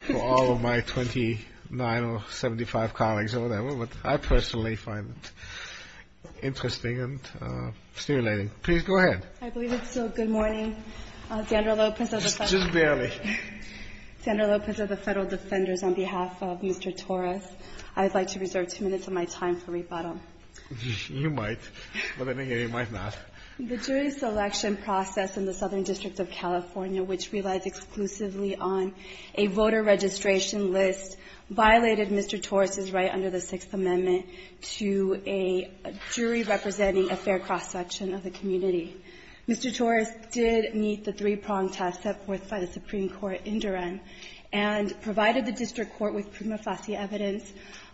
for all of my 29 or 75 colleagues over there, but I personally find it interesting and stimulating. Please go ahead. I believe it's still good morning, Sandra Lopez of the Federal Defenders on behalf of Mr. Torres. I'd like to reserve two minutes of my time for rebuttal. You might, but I think you might not. The jury selection process in the Southern District of California, which relies exclusively on a voter registration list, violated Mr. Torres' right under the Sixth Amendment to a jury representing a fair cross-section of the community. Mr. Torres did meet the three-pronged test set forth by the Supreme Court in Duran and provided the District Court with prima facie evidence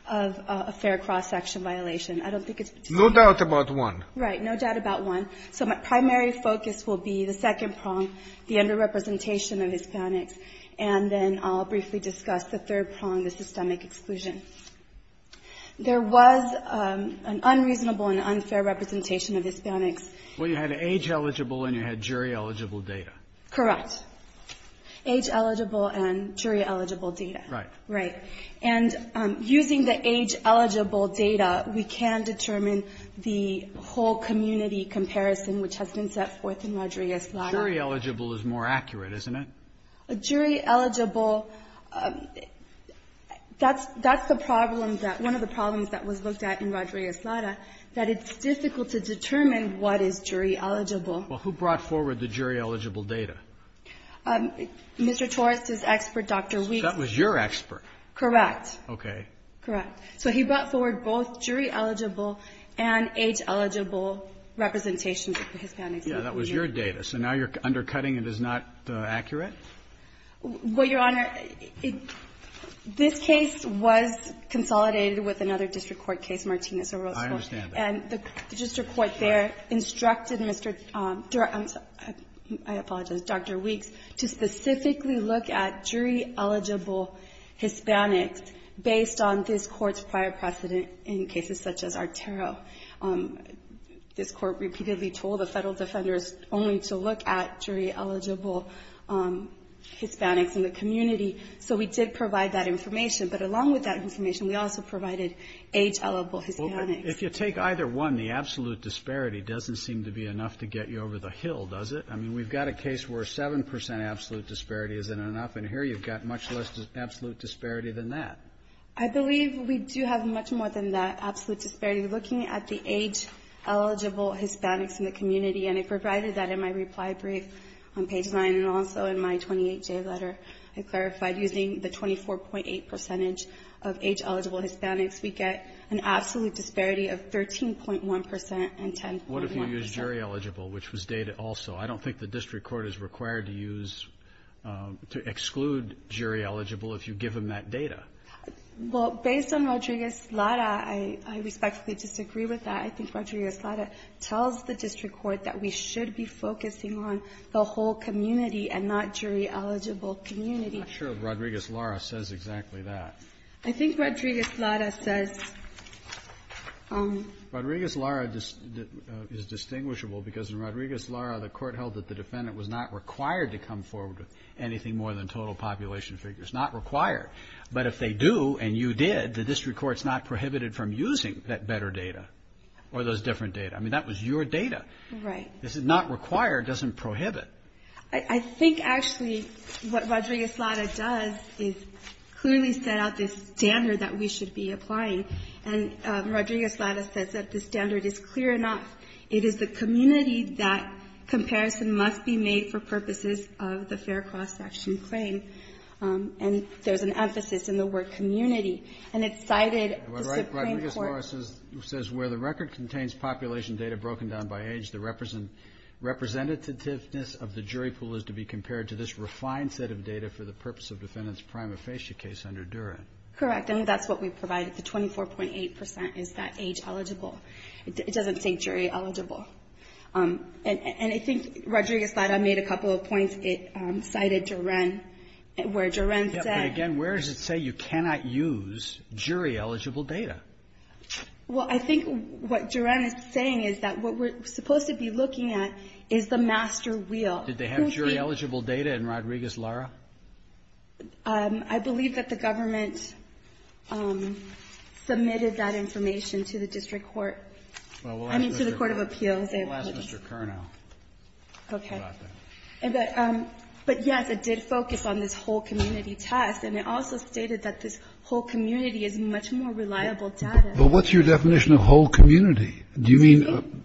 of a fair cross-section violation. I don't think it's particular. No doubt about one. Right. No doubt about one. So my primary focus will be the second prong, the under-representation of Hispanics, and then I'll briefly discuss the third prong, the systemic exclusion. There was an unreasonable and unfair representation of Hispanics. Well, you had age-eligible and you had jury-eligible data. Correct. Age-eligible and jury-eligible data. Right. Right. And using the age-eligible data, we can determine the whole community comparison, which has been set forth in Rodriguez-Lara. Jury-eligible is more accurate, isn't it? Jury-eligible, that's the problem that, one of the problems that was looked at in Rodriguez-Lara, that it's difficult to determine what is jury-eligible. Well, who brought forward the jury-eligible data? Mr. Torres' expert, Dr. Weeks. That was your expert. Correct. Okay. Correct. So he brought forward both jury-eligible and age-eligible representations of Hispanics. Yeah, that was your data. So now you're undercutting it as not accurate? Well, Your Honor, this case was consolidated with another district court case, Martinez-Orozco. I understand that. And the district court there instructed Mr. Durant, I apologize, Dr. Weeks, to specifically look at jury-eligible Hispanics based on this Court's prior precedent in cases such as Artero. This Court repeatedly told the Federal defenders only to look at jury-eligible Hispanics in the community. So we did provide that information. But along with that information, we also provided age-eligible Hispanics. Well, if you take either one, the absolute disparity doesn't seem to be enough to get you over the hill, does it? I mean, we've got a case where 7 percent absolute disparity isn't enough, and here you've got much less absolute disparity than that. I believe we do have much more than that absolute disparity. Looking at the age-eligible Hispanics in the community, and I provided that in my reply brief on page 9, and also in my 28-J letter, I clarified using the 24.8 percentage of age-eligible Hispanics, we get an absolute disparity of 13.1 percent and 10.1 percent. What if you use jury-eligible, which was dated also? I don't think the district court is required to use to exclude jury-eligible if you give them that data. Well, based on Rodriguez-Lara, I respectfully disagree with that. I think Rodriguez-Lara tells the district court that we should be focusing on the whole community and not jury-eligible community. I'm not sure Rodriguez-Lara says exactly that. I think Rodriguez-Lara says... Rodriguez-Lara is distinguishable because in Rodriguez-Lara, the court held that the defendant was not required to come forward with anything more than total population figures. Not required. But if they do, and you did, the district court's not prohibited from using that better data, or those different data. I mean, that was your data. Right. This is not required, doesn't prohibit. I think, actually, what Rodriguez-Lara does is clearly set out this standard that we should be applying. And Rodriguez-Lara says that the standard is clear enough. It is the community that comparison must be made for purposes of the fair cross-section claim. And there's an emphasis in the word community. And it cited the Supreme Court... Rodriguez-Lara says where the record contains population data broken down by age, the representativeness of the jury pool is to be compared to this refined set of data for the purpose of defendant's prima facie case under Duren. Correct. And that's what we provided, the 24.8% is that age eligible. It doesn't say jury eligible. And I think Rodriguez-Lara made a couple of points. It cited Duren, where Duren said... But again, where does it say you cannot use jury eligible data? Well, I think what Duren is saying is that what we're supposed to be looking at is the master wheel. Did they have jury eligible data in Rodriguez-Lara? I believe that the government submitted that information to the District Court. I mean, to the Court of Appeals. We'll ask Mr. Kernow about that. But yes, it did focus on this whole community test. And it also stated that this whole community is much more reliable data. But what's your definition of whole community? Do you mean...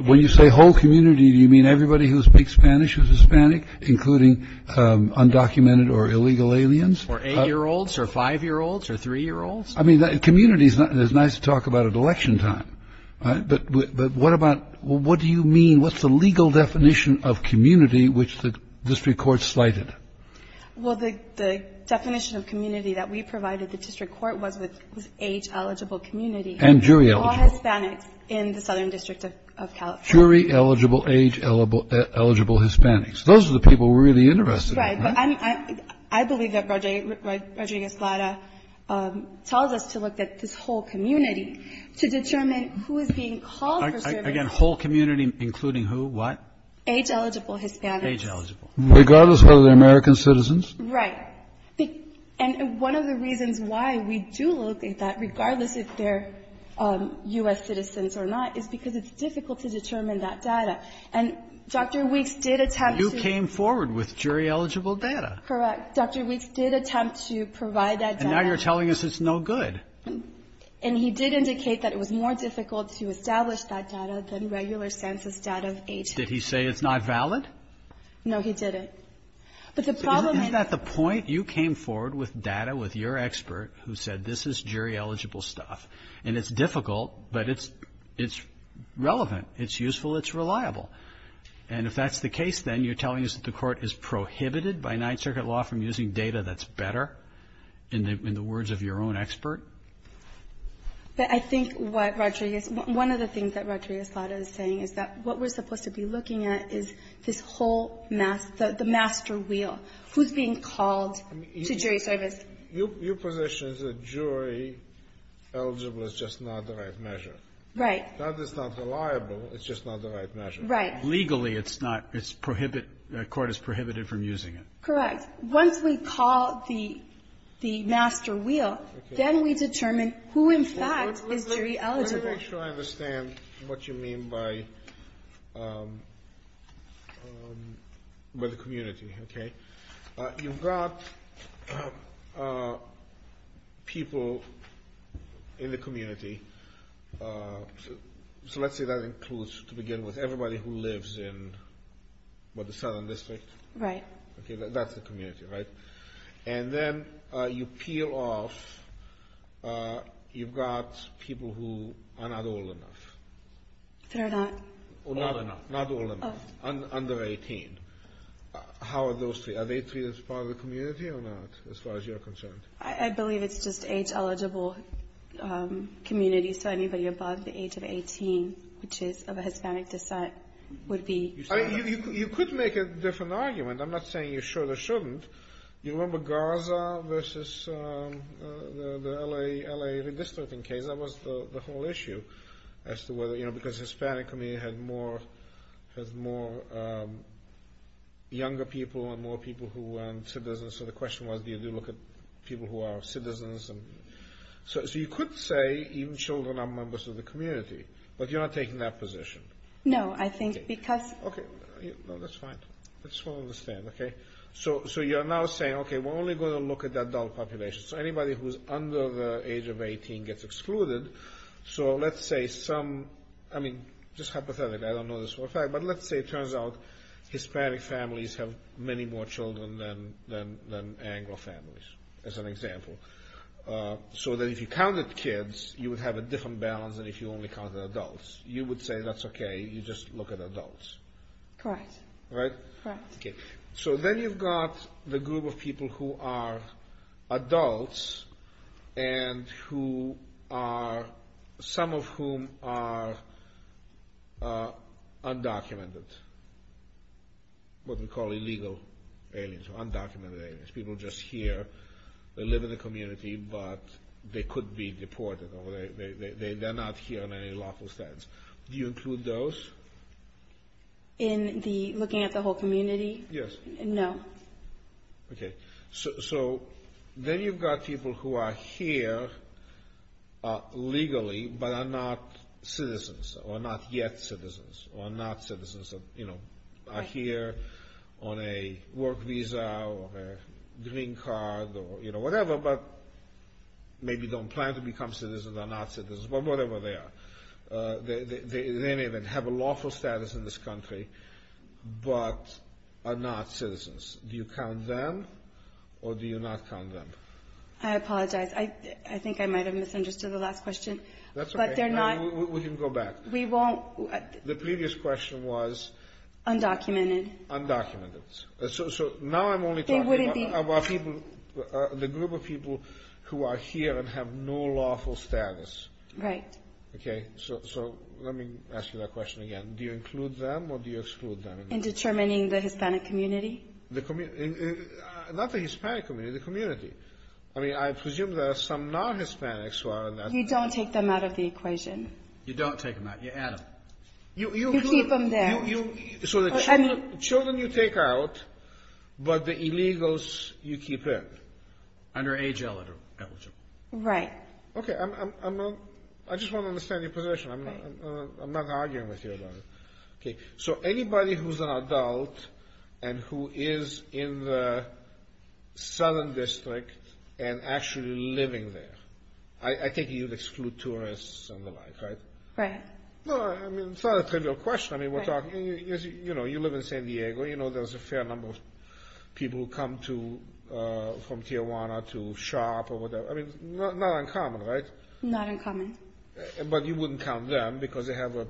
When you say whole community, do you mean everybody who speaks Spanish who's Hispanic, including undocumented or illegal aliens? Or eight-year-olds or five-year-olds or three-year-olds? I mean, community is nice to talk about at election time. But what about... What do you mean... What's the legal definition of community which the District Court cited? Well, the definition of community that we provided the District Court was age-eligible community. And jury-eligible. All Hispanics in the Southern District of California. Jury-eligible, age-eligible Hispanics. Those are the people we're really interested in. Right. I believe that Rodriguez-Lara tells us to look at this whole community to determine who is being called for service. Again, whole community including who, what? Age-eligible Hispanics. Age-eligible. Regardless of whether they're American citizens? Right. And one of the reasons why we do look at that, regardless if they're U.S. citizens or not, is because it's difficult to determine that data. And Dr. Weeks did attempt to... You came forward with jury-eligible data. Correct. Dr. Weeks did attempt to provide that data. And now you're telling us it's no good. And he did indicate that it was more difficult to establish that data than regular census data of age. Did he say it's not valid? No, he didn't. But the problem is... Isn't that the point? You came forward with data with your expert who said this is jury-eligible stuff. And it's difficult, but it's relevant. It's useful. It's reliable. And if that's the case, then you're telling us that the Court is prohibited by Ninth Circuit law from using data that's better, in the words of your own expert? But I think what Rodriguez – one of the things that Rodriguez-Slada is saying is that what we're supposed to be looking at is this whole – the master wheel. Who's being called to jury service? Your position is that jury-eligible is just not the right measure. Right. That is not reliable. It's just not the right measure. Right. Legally, it's not – it's prohibit – the Court is prohibited from using it. Correct. But once we call the master wheel, then we determine who, in fact, is jury-eligible. Let me make sure I understand what you mean by the community, okay? You've got people in the community. So let's say that includes, to begin with, everybody who lives in, what, the Southern District? Right. Okay, that's the community, right? And then you peel off – you've got people who are not old enough. They're not? Not old enough. Not old enough. Under 18. How are those three? Are they treated as part of the community or not, as far as you're concerned? I believe it's just age-eligible communities, so anybody above the age of 18, which is of a Hispanic descent, would be – I mean, you could make a different argument. I'm not saying you should or shouldn't. You remember Gaza versus the L.A. redistricting case? That was the whole issue as to whether – you know, because Hispanic community had more – has more younger people and more people who weren't citizens. So the question was, do you look at people who are citizens? So you could say even children are members of the community, but you're not taking that position. No, I think because – Okay. No, that's fine. I just want to understand, okay? So you're now saying, okay, we're only going to look at the adult population. So anybody who's under the age of 18 gets excluded. So let's say some – I mean, just hypothetically, I don't know this for a fact, but let's say it turns out Hispanic families have many more children than Anglo families, as an example. So that if you counted kids, you would have a different balance than if you only counted adults. You would say that's okay. You just look at adults. Correct. Right? Correct. Okay. So then you've got the group of people who are adults and who are – some of whom are undocumented, what we call illegal aliens or undocumented aliens, people just here. They live in the community, but they could be deported. They're not here in any lawful sense. Do you include those? In the – looking at the whole community? Yes. No. Okay. So then you've got people who are here legally but are not citizens or not yet citizens or not citizens of – are here on a work visa or a green card or whatever but maybe don't plan to become citizens or not citizens, but whatever they are. They may even have a lawful status in this country but are not citizens. Do you count them or do you not count them? I apologize. I think I might have misunderstood the last question, but they're not – That's okay. We can go back. We won't – The previous question was – Undocumented. Undocumented. So now I'm only talking about – They wouldn't be – The group of people who are here and have no lawful status. Right. Okay. So let me ask you that question again. Do you include them or do you exclude them? In determining the Hispanic community? Not the Hispanic community, the community. I mean, I presume there are some non-Hispanics who are – You don't take them out of the equation. You don't take them out. You add them. You keep them there. So the children you take out, but the illegals you keep in? Under age eligible. Right. Okay. I just want to understand your position. I'm not arguing with you about it. Okay. So anybody who's an adult and who is in the Southern District and actually living there. I think you'd exclude tourists and the like, right? Right. I mean, it's not a trivial question. I mean, you live in San Diego. You know there's a fair number of people who come from Tijuana to shop or whatever. I mean, not uncommon, right? Not uncommon. But you wouldn't count them because they have a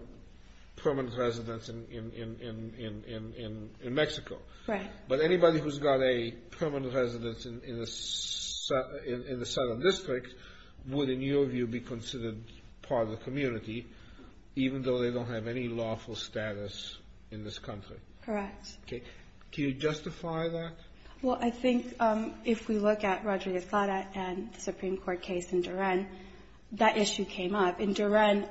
permanent residence in Mexico. Right. But anybody who's got a permanent residence in the Southern District would, in your view, be considered part of the community even though they don't have any lawful status in this country? Correct. Okay. Do you justify that? Well, I think if we look at Rodriguez-Clara and the Supreme Court case in Duran, that issue came up. In Duran,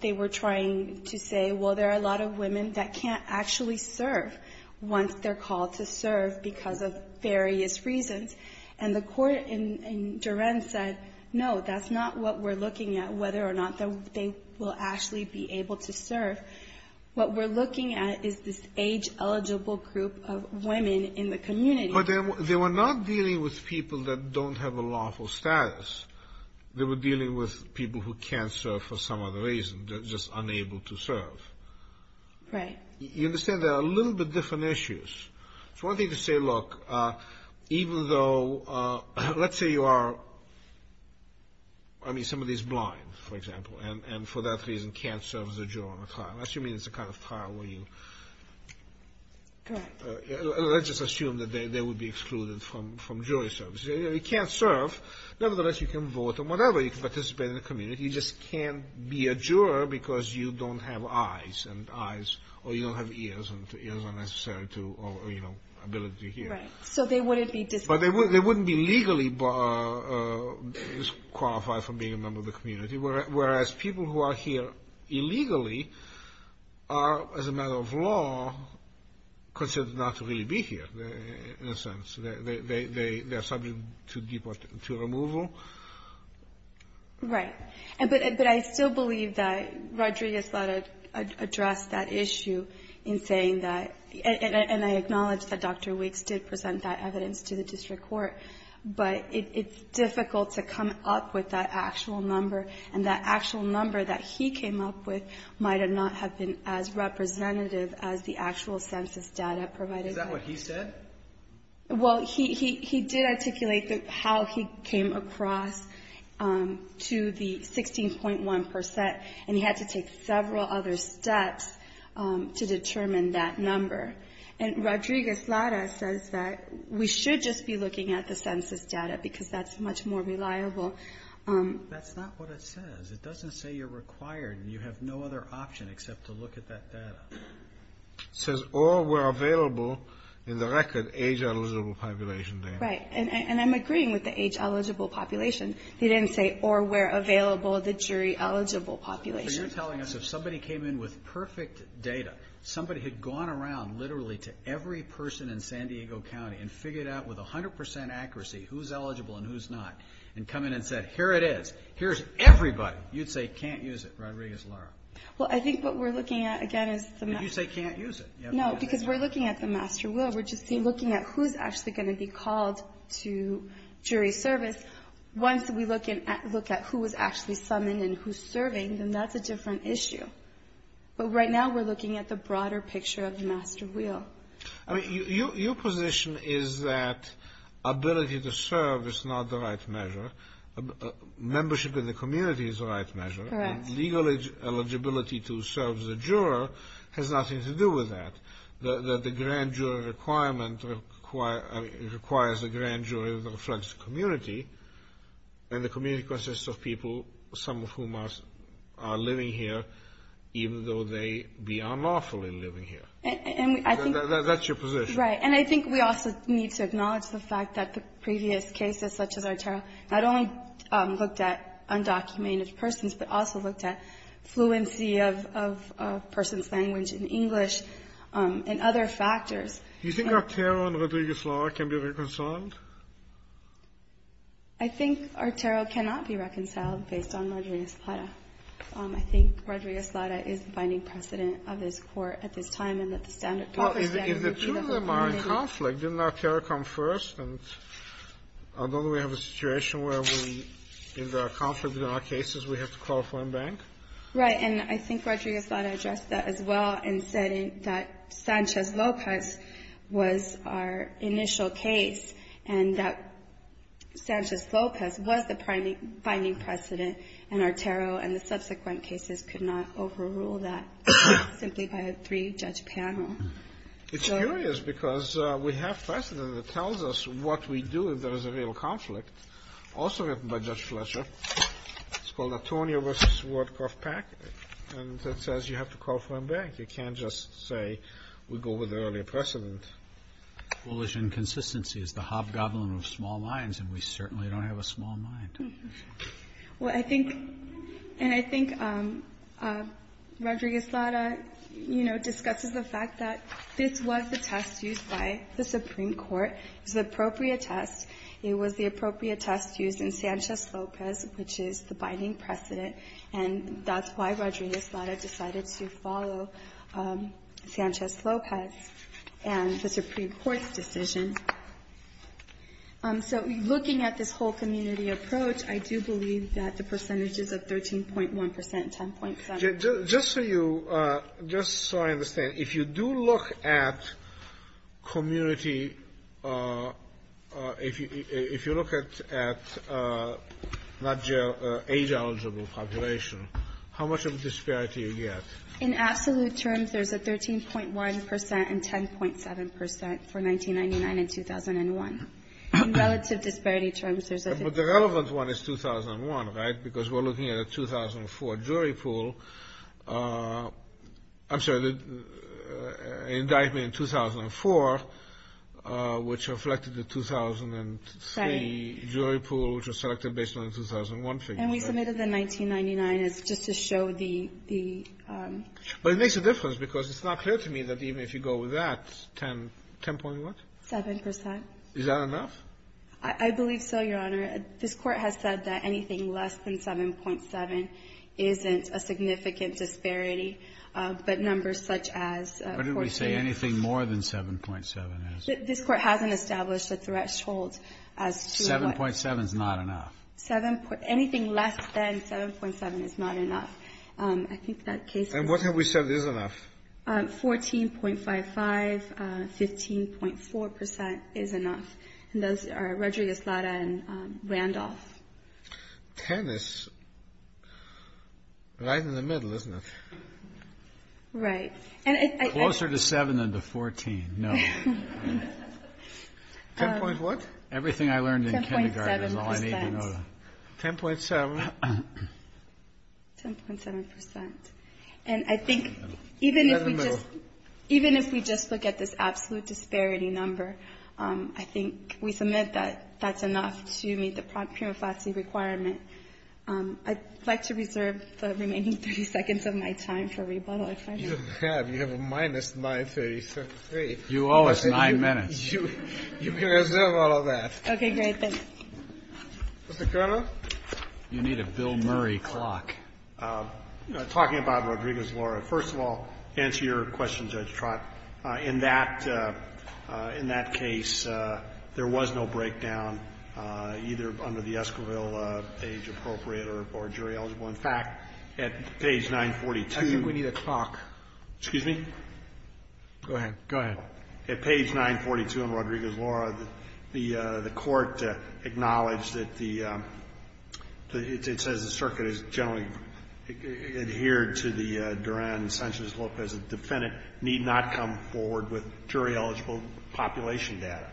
they were trying to say, well, there are a lot of women that can't actually serve once they're called to serve because of various reasons. And the court in Duran said, no, that's not what we're looking at, whether or not they will actually be able to serve. What we're looking at is this age-eligible group of women in the community. But they were not dealing with people that don't have a lawful status. They were dealing with people who can't serve for some other reason, just unable to serve. Right. You understand there are a little bit different issues. It's one thing to say, look, even though, let's say you are, I mean, somebody is blind, for example, and for that reason can't serve as a juror on a trial. I assume it's the kind of trial where you... Correct. Let's just assume that they would be excluded from jury service. You can't serve. Nevertheless, you can vote on whatever. You can participate in the community. You just can't be a juror because you don't have eyes and eyes, or you don't have ears and ears are necessary to, or, you know, ability to hear. Right. So they wouldn't be disqualified. But they wouldn't be legally disqualified from being a member of the community, whereas people who are here illegally are, as a matter of law, considered not to really be here in a sense. They are subject to removal. Right. But I still believe that Rodriguez thought it addressed that issue in saying that, and I acknowledge that Dr. Weeks did present that evidence to the district court, but it's difficult to come up with that actual number, and that actual number that he came up with might not have been as representative as the actual census data provided. Is that what he said? Well, he did articulate how he came across to the 16.1%, and he had to take several other steps to determine that number. And Rodriguez-Lara says that we should just be looking at the census data because that's much more reliable. That's not what it says. It doesn't say you're required and you have no other option except to look at that data. It says all were available in the record age-eligible population data. Right. And I'm agreeing with the age-eligible population. He didn't say all were available, the jury-eligible population. So you're telling us if somebody came in with perfect data, somebody had gone around literally to every person in San Diego County and figured out with 100% accuracy who's eligible and who's not, and come in and said, here it is, here's everybody, you'd say can't use it, Rodriguez-Lara. Well, I think what we're looking at, again, is the master will. But you say can't use it. No, because we're looking at the master will. We're just looking at who's actually going to be called to jury service. Once we look at who was actually summoned and who's serving, then that's a different issue. But right now we're looking at the broader picture of the master will. Your position is that ability to serve is not the right measure. Membership in the community is the right measure. Correct. And legal eligibility to serve as a juror has nothing to do with that. The grand jury requirement requires a grand jury that reflects the community. And the community consists of people, some of whom are living here, even though they be unlawfully living here. That's your position. Right. And I think we also need to acknowledge the fact that the previous cases, such as Artero, not only looked at undocumented persons, but also looked at fluency of a person's language in English and other factors. Do you think Artero and Rodriguez-Lara can be reconciled? I think Artero cannot be reconciled based on Rodriguez-Lara. I think Rodriguez-Lara is the binding precedent of this Court at this time, Well, if the two of them are in conflict, didn't Artero come first? And don't we have a situation where if there are conflicts in our cases, we have to call a foreign bank? Right, and I think Rodriguez-Lara addressed that as well in saying that Sanchez-Lopez was our initial case and that Sanchez-Lopez was the binding precedent in Artero and the subsequent cases could not overrule that simply by a three-judge panel. It's curious because we have precedent that tells us what we do if there is a real conflict, also written by Judge Fletcher. It's called Antonio v. Wardcroft-Pack and it says you have to call a foreign bank. You can't just say we go with the earlier precedent. Foolish inconsistency is the hobgoblin of small minds and we certainly don't have a small mind. Well, I think, and I think Rodriguez-Lara, you know, discusses the fact that this was the test used by the Supreme Court. It was the appropriate test. It was the appropriate test used in Sanchez-Lopez, which is the binding precedent and that's why Rodriguez-Lara decided to follow Sanchez-Lopez and the Supreme Court's decision. So looking at this whole community approach, I do believe that the percentages of 13.1 percent and 10.7 percent. Just so you, just so I understand, if you do look at community, if you look at age-eligible population, how much of a disparity do you get? In absolute terms, there's a 13.1 percent and 10.7 percent for 1999 and 2001. In relative disparity terms, there's a... But the relevant one is 2001, right? Because we're looking at a 2004 jury pool. I'm sorry, the indictment in 2004, which reflected the 2003 jury pool, which was selected based on the 2001 figure. And we submitted the 1999 as just to show the... But it makes a difference because it's not clear to me that even if you go with that, 10.1? 7 percent. Is that enough? I believe so, Your Honor. This Court has said that anything less than 7.7 isn't a significant disparity. But numbers such as 14... But it would say anything more than 7.7 is. This Court hasn't established a threshold as to what... 7.7 is not enough. Anything less than 7.7 is not enough. I think that case... And what have we said is enough? 14.55, 15.4 percent is enough. And those are Rodriguez-Lara and Randolph. 10 is right in the middle, isn't it? Right. Closer to 7 than to 14, no. 10.1? Everything I learned in kindergarten is all I need to know. 10.7? 10.7 percent. And I think even if we just... In the middle. Even if we just look at this absolute disparity number, I think we submit that that's enough to meet the prima facie requirement. I'd like to reserve the remaining 30 seconds of my time for rebuttal, if I may. You have. You have a minus 9.33. You owe us 9 minutes. You can reserve all of that. Okay, great. Thank you. Mr. Colonel? You need a Bill Murray clock. Talking about Rodriguez-Lara, first of all, to answer your question, Judge Trott, in that case there was no breakdown either under the Esquivel page appropriate or jury eligible. In fact, at page 942... I think we need a clock. Excuse me? Go ahead. Go ahead. At page 942 on Rodriguez-Lara, the court acknowledged that the... adhered to the Duran-Sanchez-Lopez defendant need not come forward with jury eligible population data.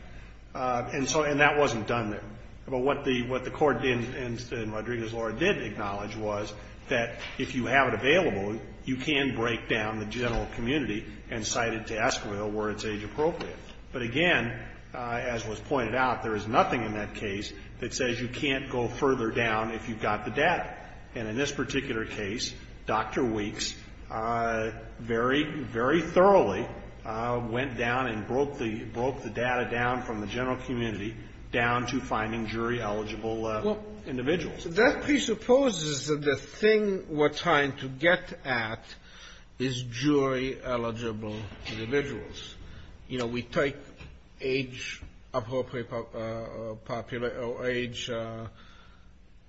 And that wasn't done there. But what the court in Rodriguez-Lara did acknowledge was that if you have it available, you can break down the general community and cite it to Esquivel where it's age appropriate. But again, as was pointed out, there is nothing in that case that says you can't go further down if you've got the data. And in this particular case, Dr. Weeks very, very thoroughly went down and broke the data down from the general community down to finding jury eligible individuals. That presupposes that the thing we're trying to get at is jury eligible individuals. You know, we take age appropriate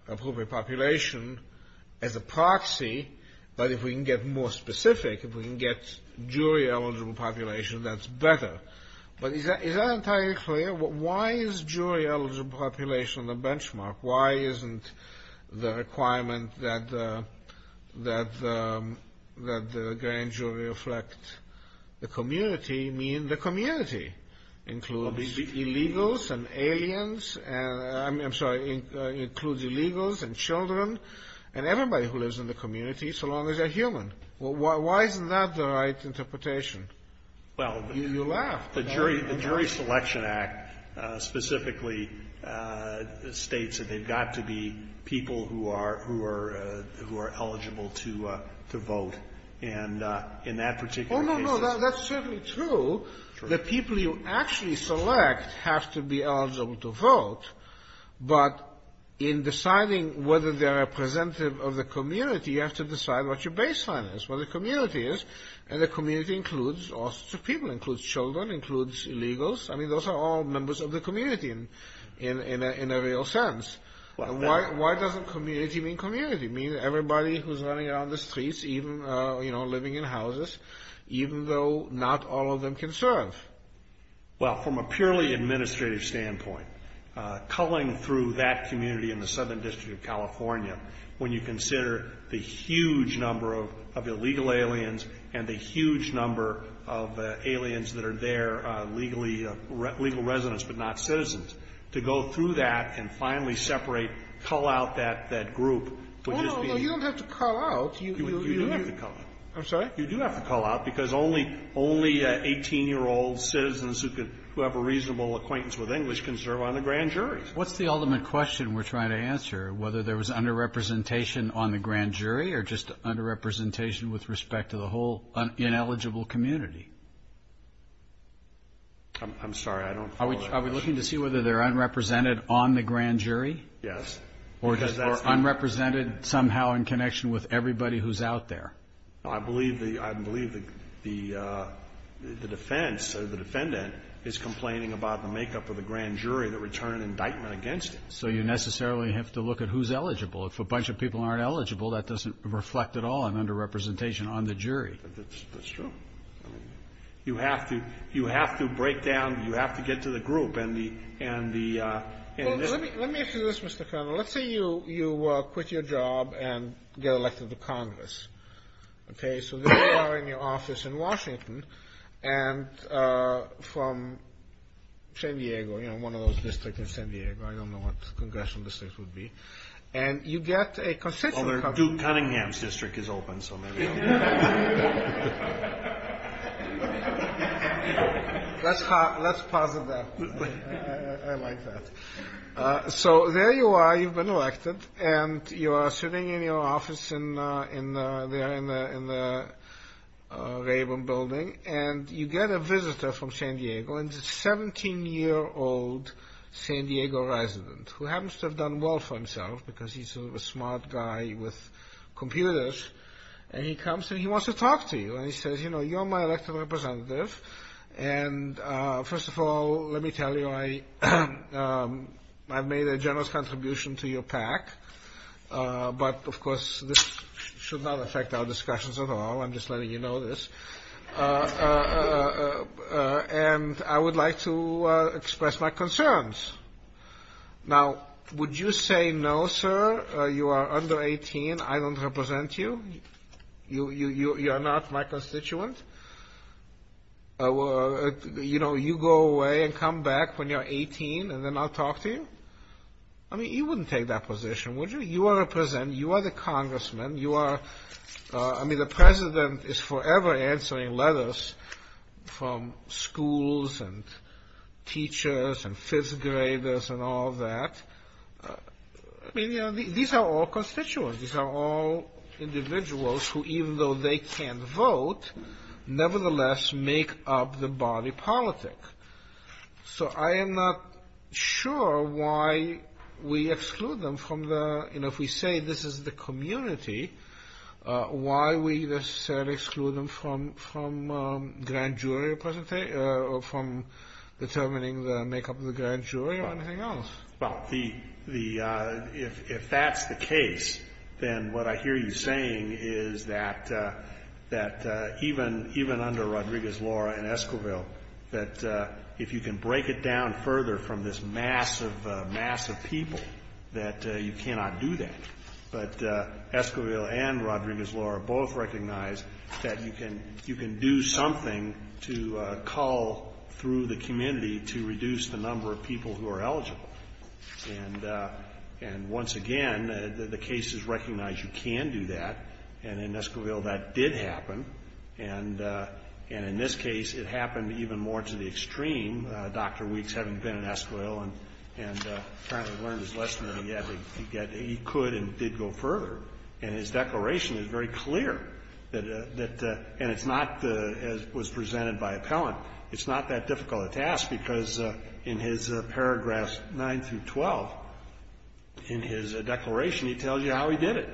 population as a proxy, but if we can get more specific, if we can get jury eligible population, that's better. But is that entirely clear? Why is jury eligible population the benchmark? Why isn't the requirement that the grand jury reflect the community mean the community? Includes illegals and aliens... I'm sorry. Includes illegals and children and everybody who lives in the community so long as they're human. Why isn't that the right interpretation? Well... You laughed. The Jury Selection Act specifically states that they've got to be people who are eligible to vote. And in that particular case... Oh, no, no, that's certainly true. The people you actually select have to be eligible to vote, but in deciding whether they're representative of the community, you have to decide what your baseline is, what the community is. And the community includes all sorts of people. Includes children, includes illegals. I mean, those are all members of the community in a real sense. Why doesn't community mean community? It means everybody who's running around the streets, even, you know, living in houses, even though not all of them can serve. Well, from a purely administrative standpoint, culling through that community in the Southern District of California when you consider the huge number of illegal aliens and the huge number of aliens that are there, legal residents but not citizens, to go through that and finally separate, cull out that group would just be... Oh, no, no, you don't have to cull out. You do have to cull out. I'm sorry? You do have to cull out because only 18-year-old citizens who have a reasonable acquaintance with English can serve on the grand jury. What's the ultimate question we're trying to answer? Whether there was underrepresentation on the grand jury or just underrepresentation with respect to the whole ineligible community? I'm sorry. I don't follow that question. Are we looking to see whether they're unrepresented on the grand jury? Yes. Or just unrepresented somehow in connection with everybody who's out there? I believe the defense, the defendant, is complaining about the makeup of the grand jury that would turn an indictment against him. So you necessarily have to look at who's eligible. If a bunch of people aren't eligible, that doesn't reflect at all an underrepresentation on the jury. That's true. You have to break down, you have to get to the group and the... Well, let me ask you this, Mr. Colonel. Let's say you quit your job and get elected to Congress. So there you are in your office in Washington and from San Diego. You know, one of those districts in San Diego. I don't know what congressional districts would be. And you get a consensual... Duke Cunningham's district is open. So maybe... laughter Let's pause it there. I like that. So there you are. You've been elected and you're sitting in your office there in the Raven Building and you get a visitor from San Diego and it's a 17-year-old San Diego resident who happens to have done well for himself because he's a smart guy with computers and he comes and he wants to talk to you and he says, you know, you're my elected representative and first of all, let me tell you I've made a generous contribution to your PAC but of course this should not affect our discussions at all, I'm just letting you know this laughter and I would like to express my concerns. Now, would you say no, sir, you are under 18, I don't represent you you are not my constituent you know, you go away and come back when you're 18 and then I'll talk to you I mean, you wouldn't take that position, would you? You are the congressman you are, I mean the president is forever answering letters from schools and teachers and fifth graders and all that I mean, you know, these are all constituents these are all individuals who even though they can't vote nevertheless make up the body politic so I am not sure why we exclude them from the you know, if we say this is the community why we necessarily exclude them from grand jury or from determining the makeup of the grand jury or anything else Well, the if that's the case then what I hear you saying is that even under Rodriguez, Laura and Esquivel if you can break it down further from this mass of people that you cannot do that but Esquivel and Rodriguez, Laura both recognize that you can do something to call through the community to reduce the number of people who are eligible and once again the case is recognized you can do that and in Esquivel that did happen and in this case it happened even more to the extreme Dr. Weeks having been in Esquivel and apparently learned his lesson that he could and did go further and his declaration is very clear and it's not as was presented by Appellant it's not that difficult a task because in his paragraphs 9-12 in his declaration he tells you how he did it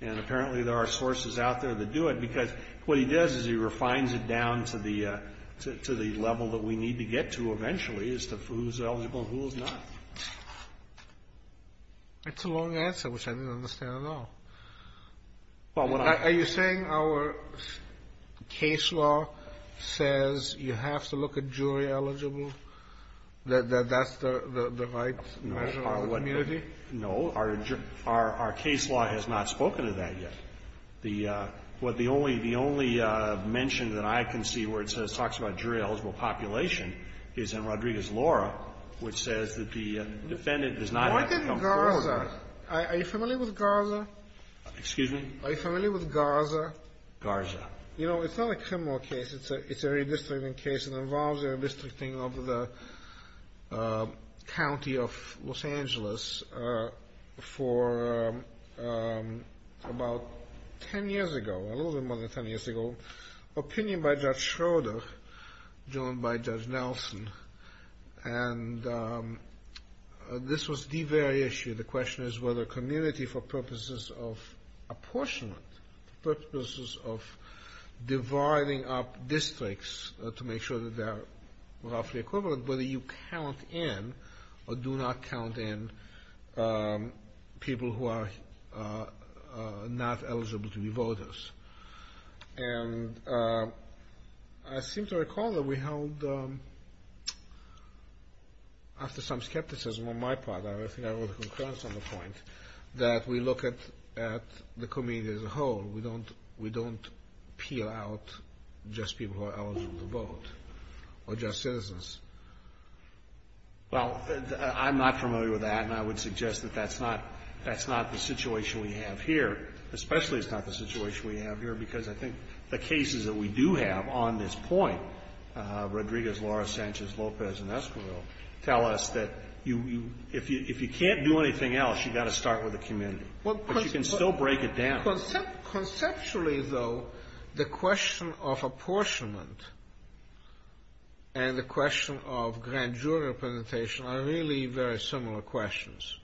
and apparently there are sources out there that do it because what he does is he refines it down to the level that we need to get to eventually as to who's eligible and who's not It's a long answer which I didn't understand at all Are you saying our case law says you have to look at jury eligible that that's the right measure of community? No, our case law has not spoken to that yet the only mention that I can see where it says jury eligible population is in Rodriguez-Laura which says that the defendant does not have to come forward Why didn't Garza? Are you familiar with Garza? Excuse me? Are you familiar with Garza? Garza. You know it's not a criminal case it's a redistricting case it involves redistricting over the county of Los Angeles for about ten years ago a little more than ten years ago Opinion by Judge Schroeder joined by Judge Nelson and this was the very issue, the question is whether community for purposes of apportionment, purposes of dividing up districts to make sure that they're count in or do not count in people who are not eligible to be voters and I seem to recall that we held after some skepticism on my part, I think I wrote a concurrence on the point, that we look at the community as a whole, we don't peel out just people who are eligible to vote or just citizens Well, I'm not familiar with that and I would suggest that that's not the situation we have here especially it's not the situation we have here because I think the cases that we do have on this point Rodriguez, Laura Sanchez, Lopez and Esquivel tell us that if you can't do anything else you've got to start with the community but you can still break it down Conceptually though the question of apportionment and the question of grand jury representation are really very similar questions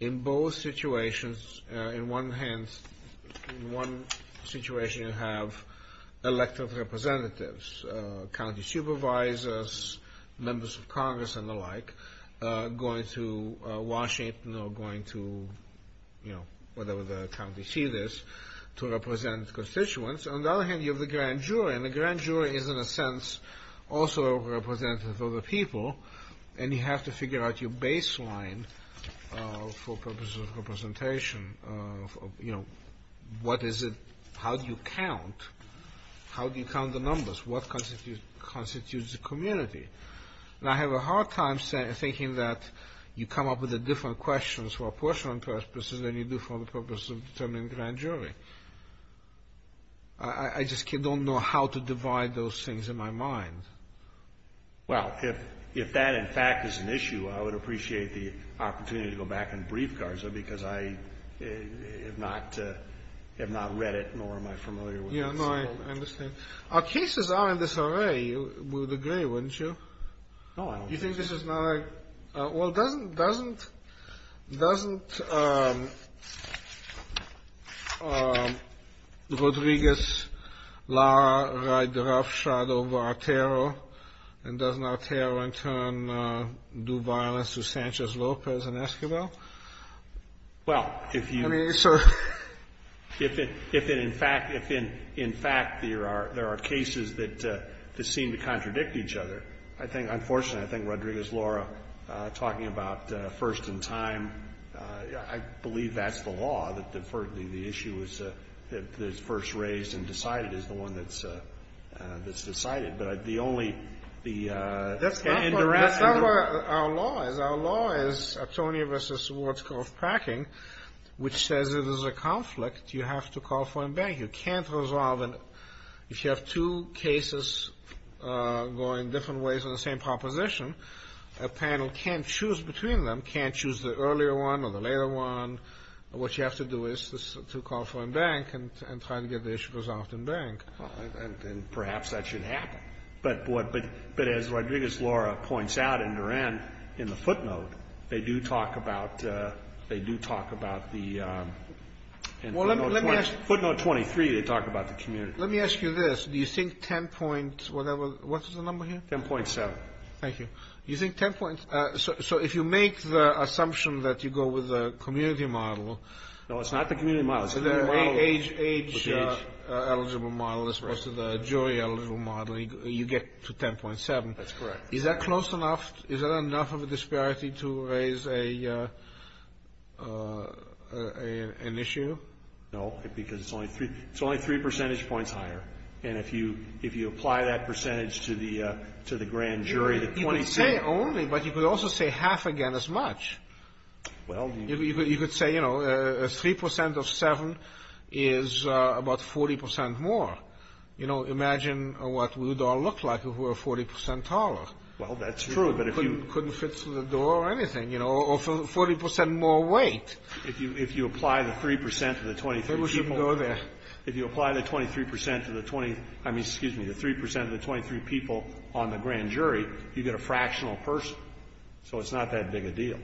in both situations in one situation you have elective representatives county supervisors members of congress and the like going to Washington or going to whatever the county seat is to represent constituents on the other hand you have the grand jury and the grand jury is in a sense also representative of the people and you have to figure out your baseline for purposes of representation you know how do you count how do you count the numbers what constitutes the community and I have a hard time thinking that you come up with different questions for apportionment purposes than you do for the purpose of determining grand jury I just don't know how to divide those things in my mind well if that in fact is an issue I would appreciate the opportunity to go back and brief Garza because I have not read it nor am I familiar with it I understand our cases are in this array you would agree wouldn't you well doesn't doesn't um um Rodriguez Lara ride the rough shadow of Artero and doesn't Artero in turn do violence to Sanchez Lopez and Esquivel well if you if it in fact there are cases that seem to contradict each other unfortunately I think Rodriguez Lara talking about first in time I believe that's the law for the issue that's first raised and decided is the one that's that's decided but the only the uh that's not what our law is our law is Antonio vs. packing which says it is a conflict you have to call for a bank you can't resolve if you have two cases going different ways on the same proposition a panel can't choose between them can't choose the earlier one or the later one what you have to do is to call for a bank and try to get the issue resolved in bank and perhaps that should happen but as Rodriguez Lara points out in her end in the footnote they do talk about they do talk about the footnote 23 they talk about the community let me ask you this do you think 10. what is the number here 10.7 so if you make the assumption that you go with the community model no it's not the community model it's the age eligible model as opposed to the jury eligible model you get to 10.7 is that close enough is that enough of a disparity to raise a an issue no because it's only three percentage points higher and if you apply that percentage to the grand jury you could say only but you could also say half again as much you could say 3% of 7 is about 40% more you know imagine what we would all look like if we were 40% taller well that's true couldn't fit through the door or anything or 40% more weight if you apply the 3% of the 23 people if you apply the 23% excuse me the 3% of the 23 people on the grand jury you get a fractional person so it's not that big a deal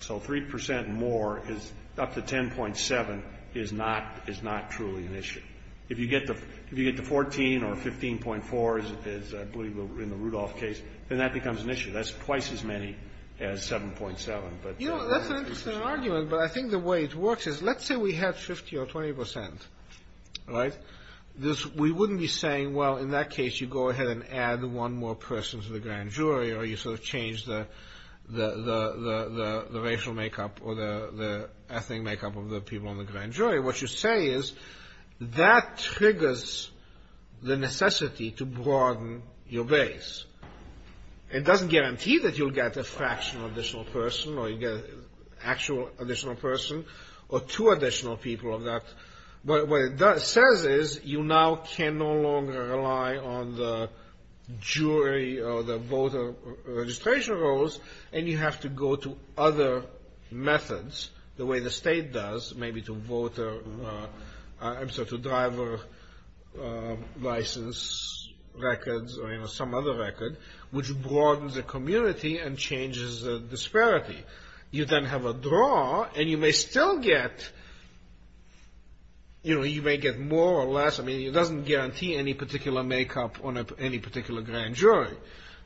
so 3% more is up to 10.7 is not truly an issue if you get to 14 or 15.4 as I believe in the Rudolph case then that becomes an issue that's twice as many as 7.7 you know that's an interesting argument but I think the way it works is let's say we have 50 or 20% we wouldn't be saying well in that case you go ahead and add one more person to the grand jury or you sort of change the racial makeup or the ethnic makeup of the people on the grand jury what you say is that triggers the necessity to broaden your base it doesn't guarantee that you'll get a fractional additional person or you'll get an actual additional person or two additional people but what it says is you now can no longer rely on the jury or the voter registration rolls and you have to go to other methods the way the state does maybe to driver license records or some other record which broadens the community and changes the disparity you then have a draw and you may still get you know you may get more or less it doesn't guarantee any particular makeup on any particular grand jury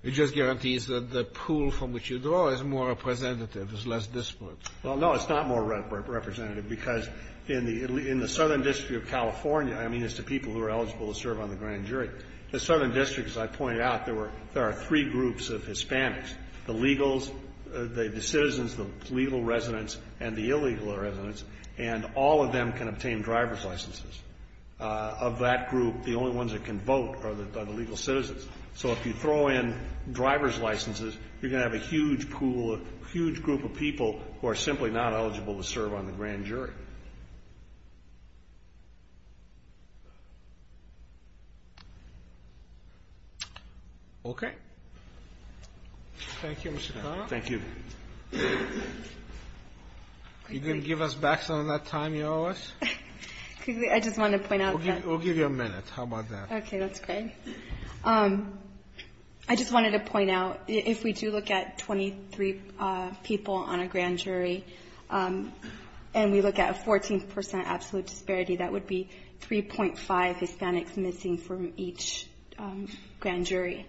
it just guarantees that the pool from which you draw is more representative is less disparate well no it's not more representative because in the southern district of California I mean as to people who are eligible to serve on the grand jury the southern district as I pointed out there are three groups of Hispanics the citizens, the legal residents and the illegal residents and all of them can obtain driver's licenses of that group the only ones that can vote are the legal citizens so if you throw in driver's licenses you're going to have a huge pool, a huge group of people who are simply not eligible to serve on the grand jury okay thank you Mr. Connell you didn't give us back some of that time you owe us I just wanted to point out we'll give you a minute okay that's great I just wanted to point out if we do look at 23 people on a grand jury and we look at 14% absolute disparity that would be 3.5 Hispanics missing from each grand jury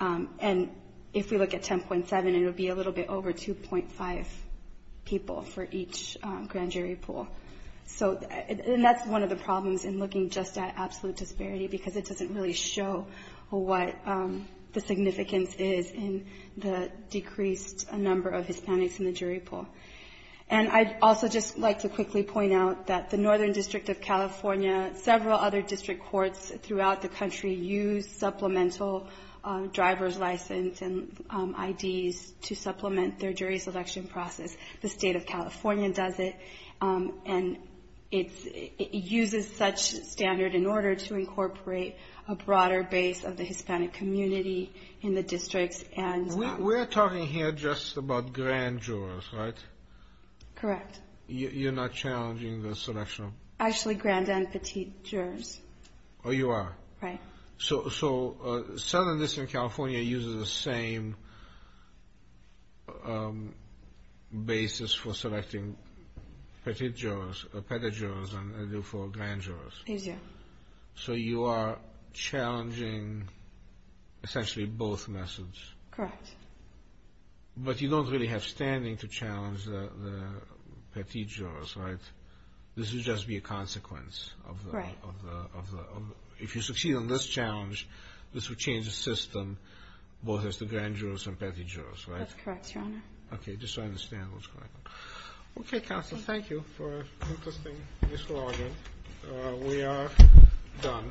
and if we look at 10.7 it would be a little bit over 2.5 people for each grand jury pool and that's one of the problems in looking just at absolute disparity because it doesn't really show what the significance is in the decreased number of Hispanics in the jury pool and I'd also just like to quickly point out that the northern district of California, several other district courts throughout the country use supplemental driver's license and ID's to supplement their jury selection process the state of California does it and it uses such standard in order to incorporate a broader base of the Hispanic community in the districts we're talking here just about grand jurors correct you're not challenging the selection actually grand and petite jurors oh you are so southern district of California uses the same basis for selecting petite jurors and for grand jurors so you are challenging essentially both methods correct but you don't really have standing to challenge the petite jurors right this would just be a consequence of the if you succeed in this challenge this would change the system both as the grand jurors and petite jurors that's correct your honor just so I understand okay counsel thank you we are done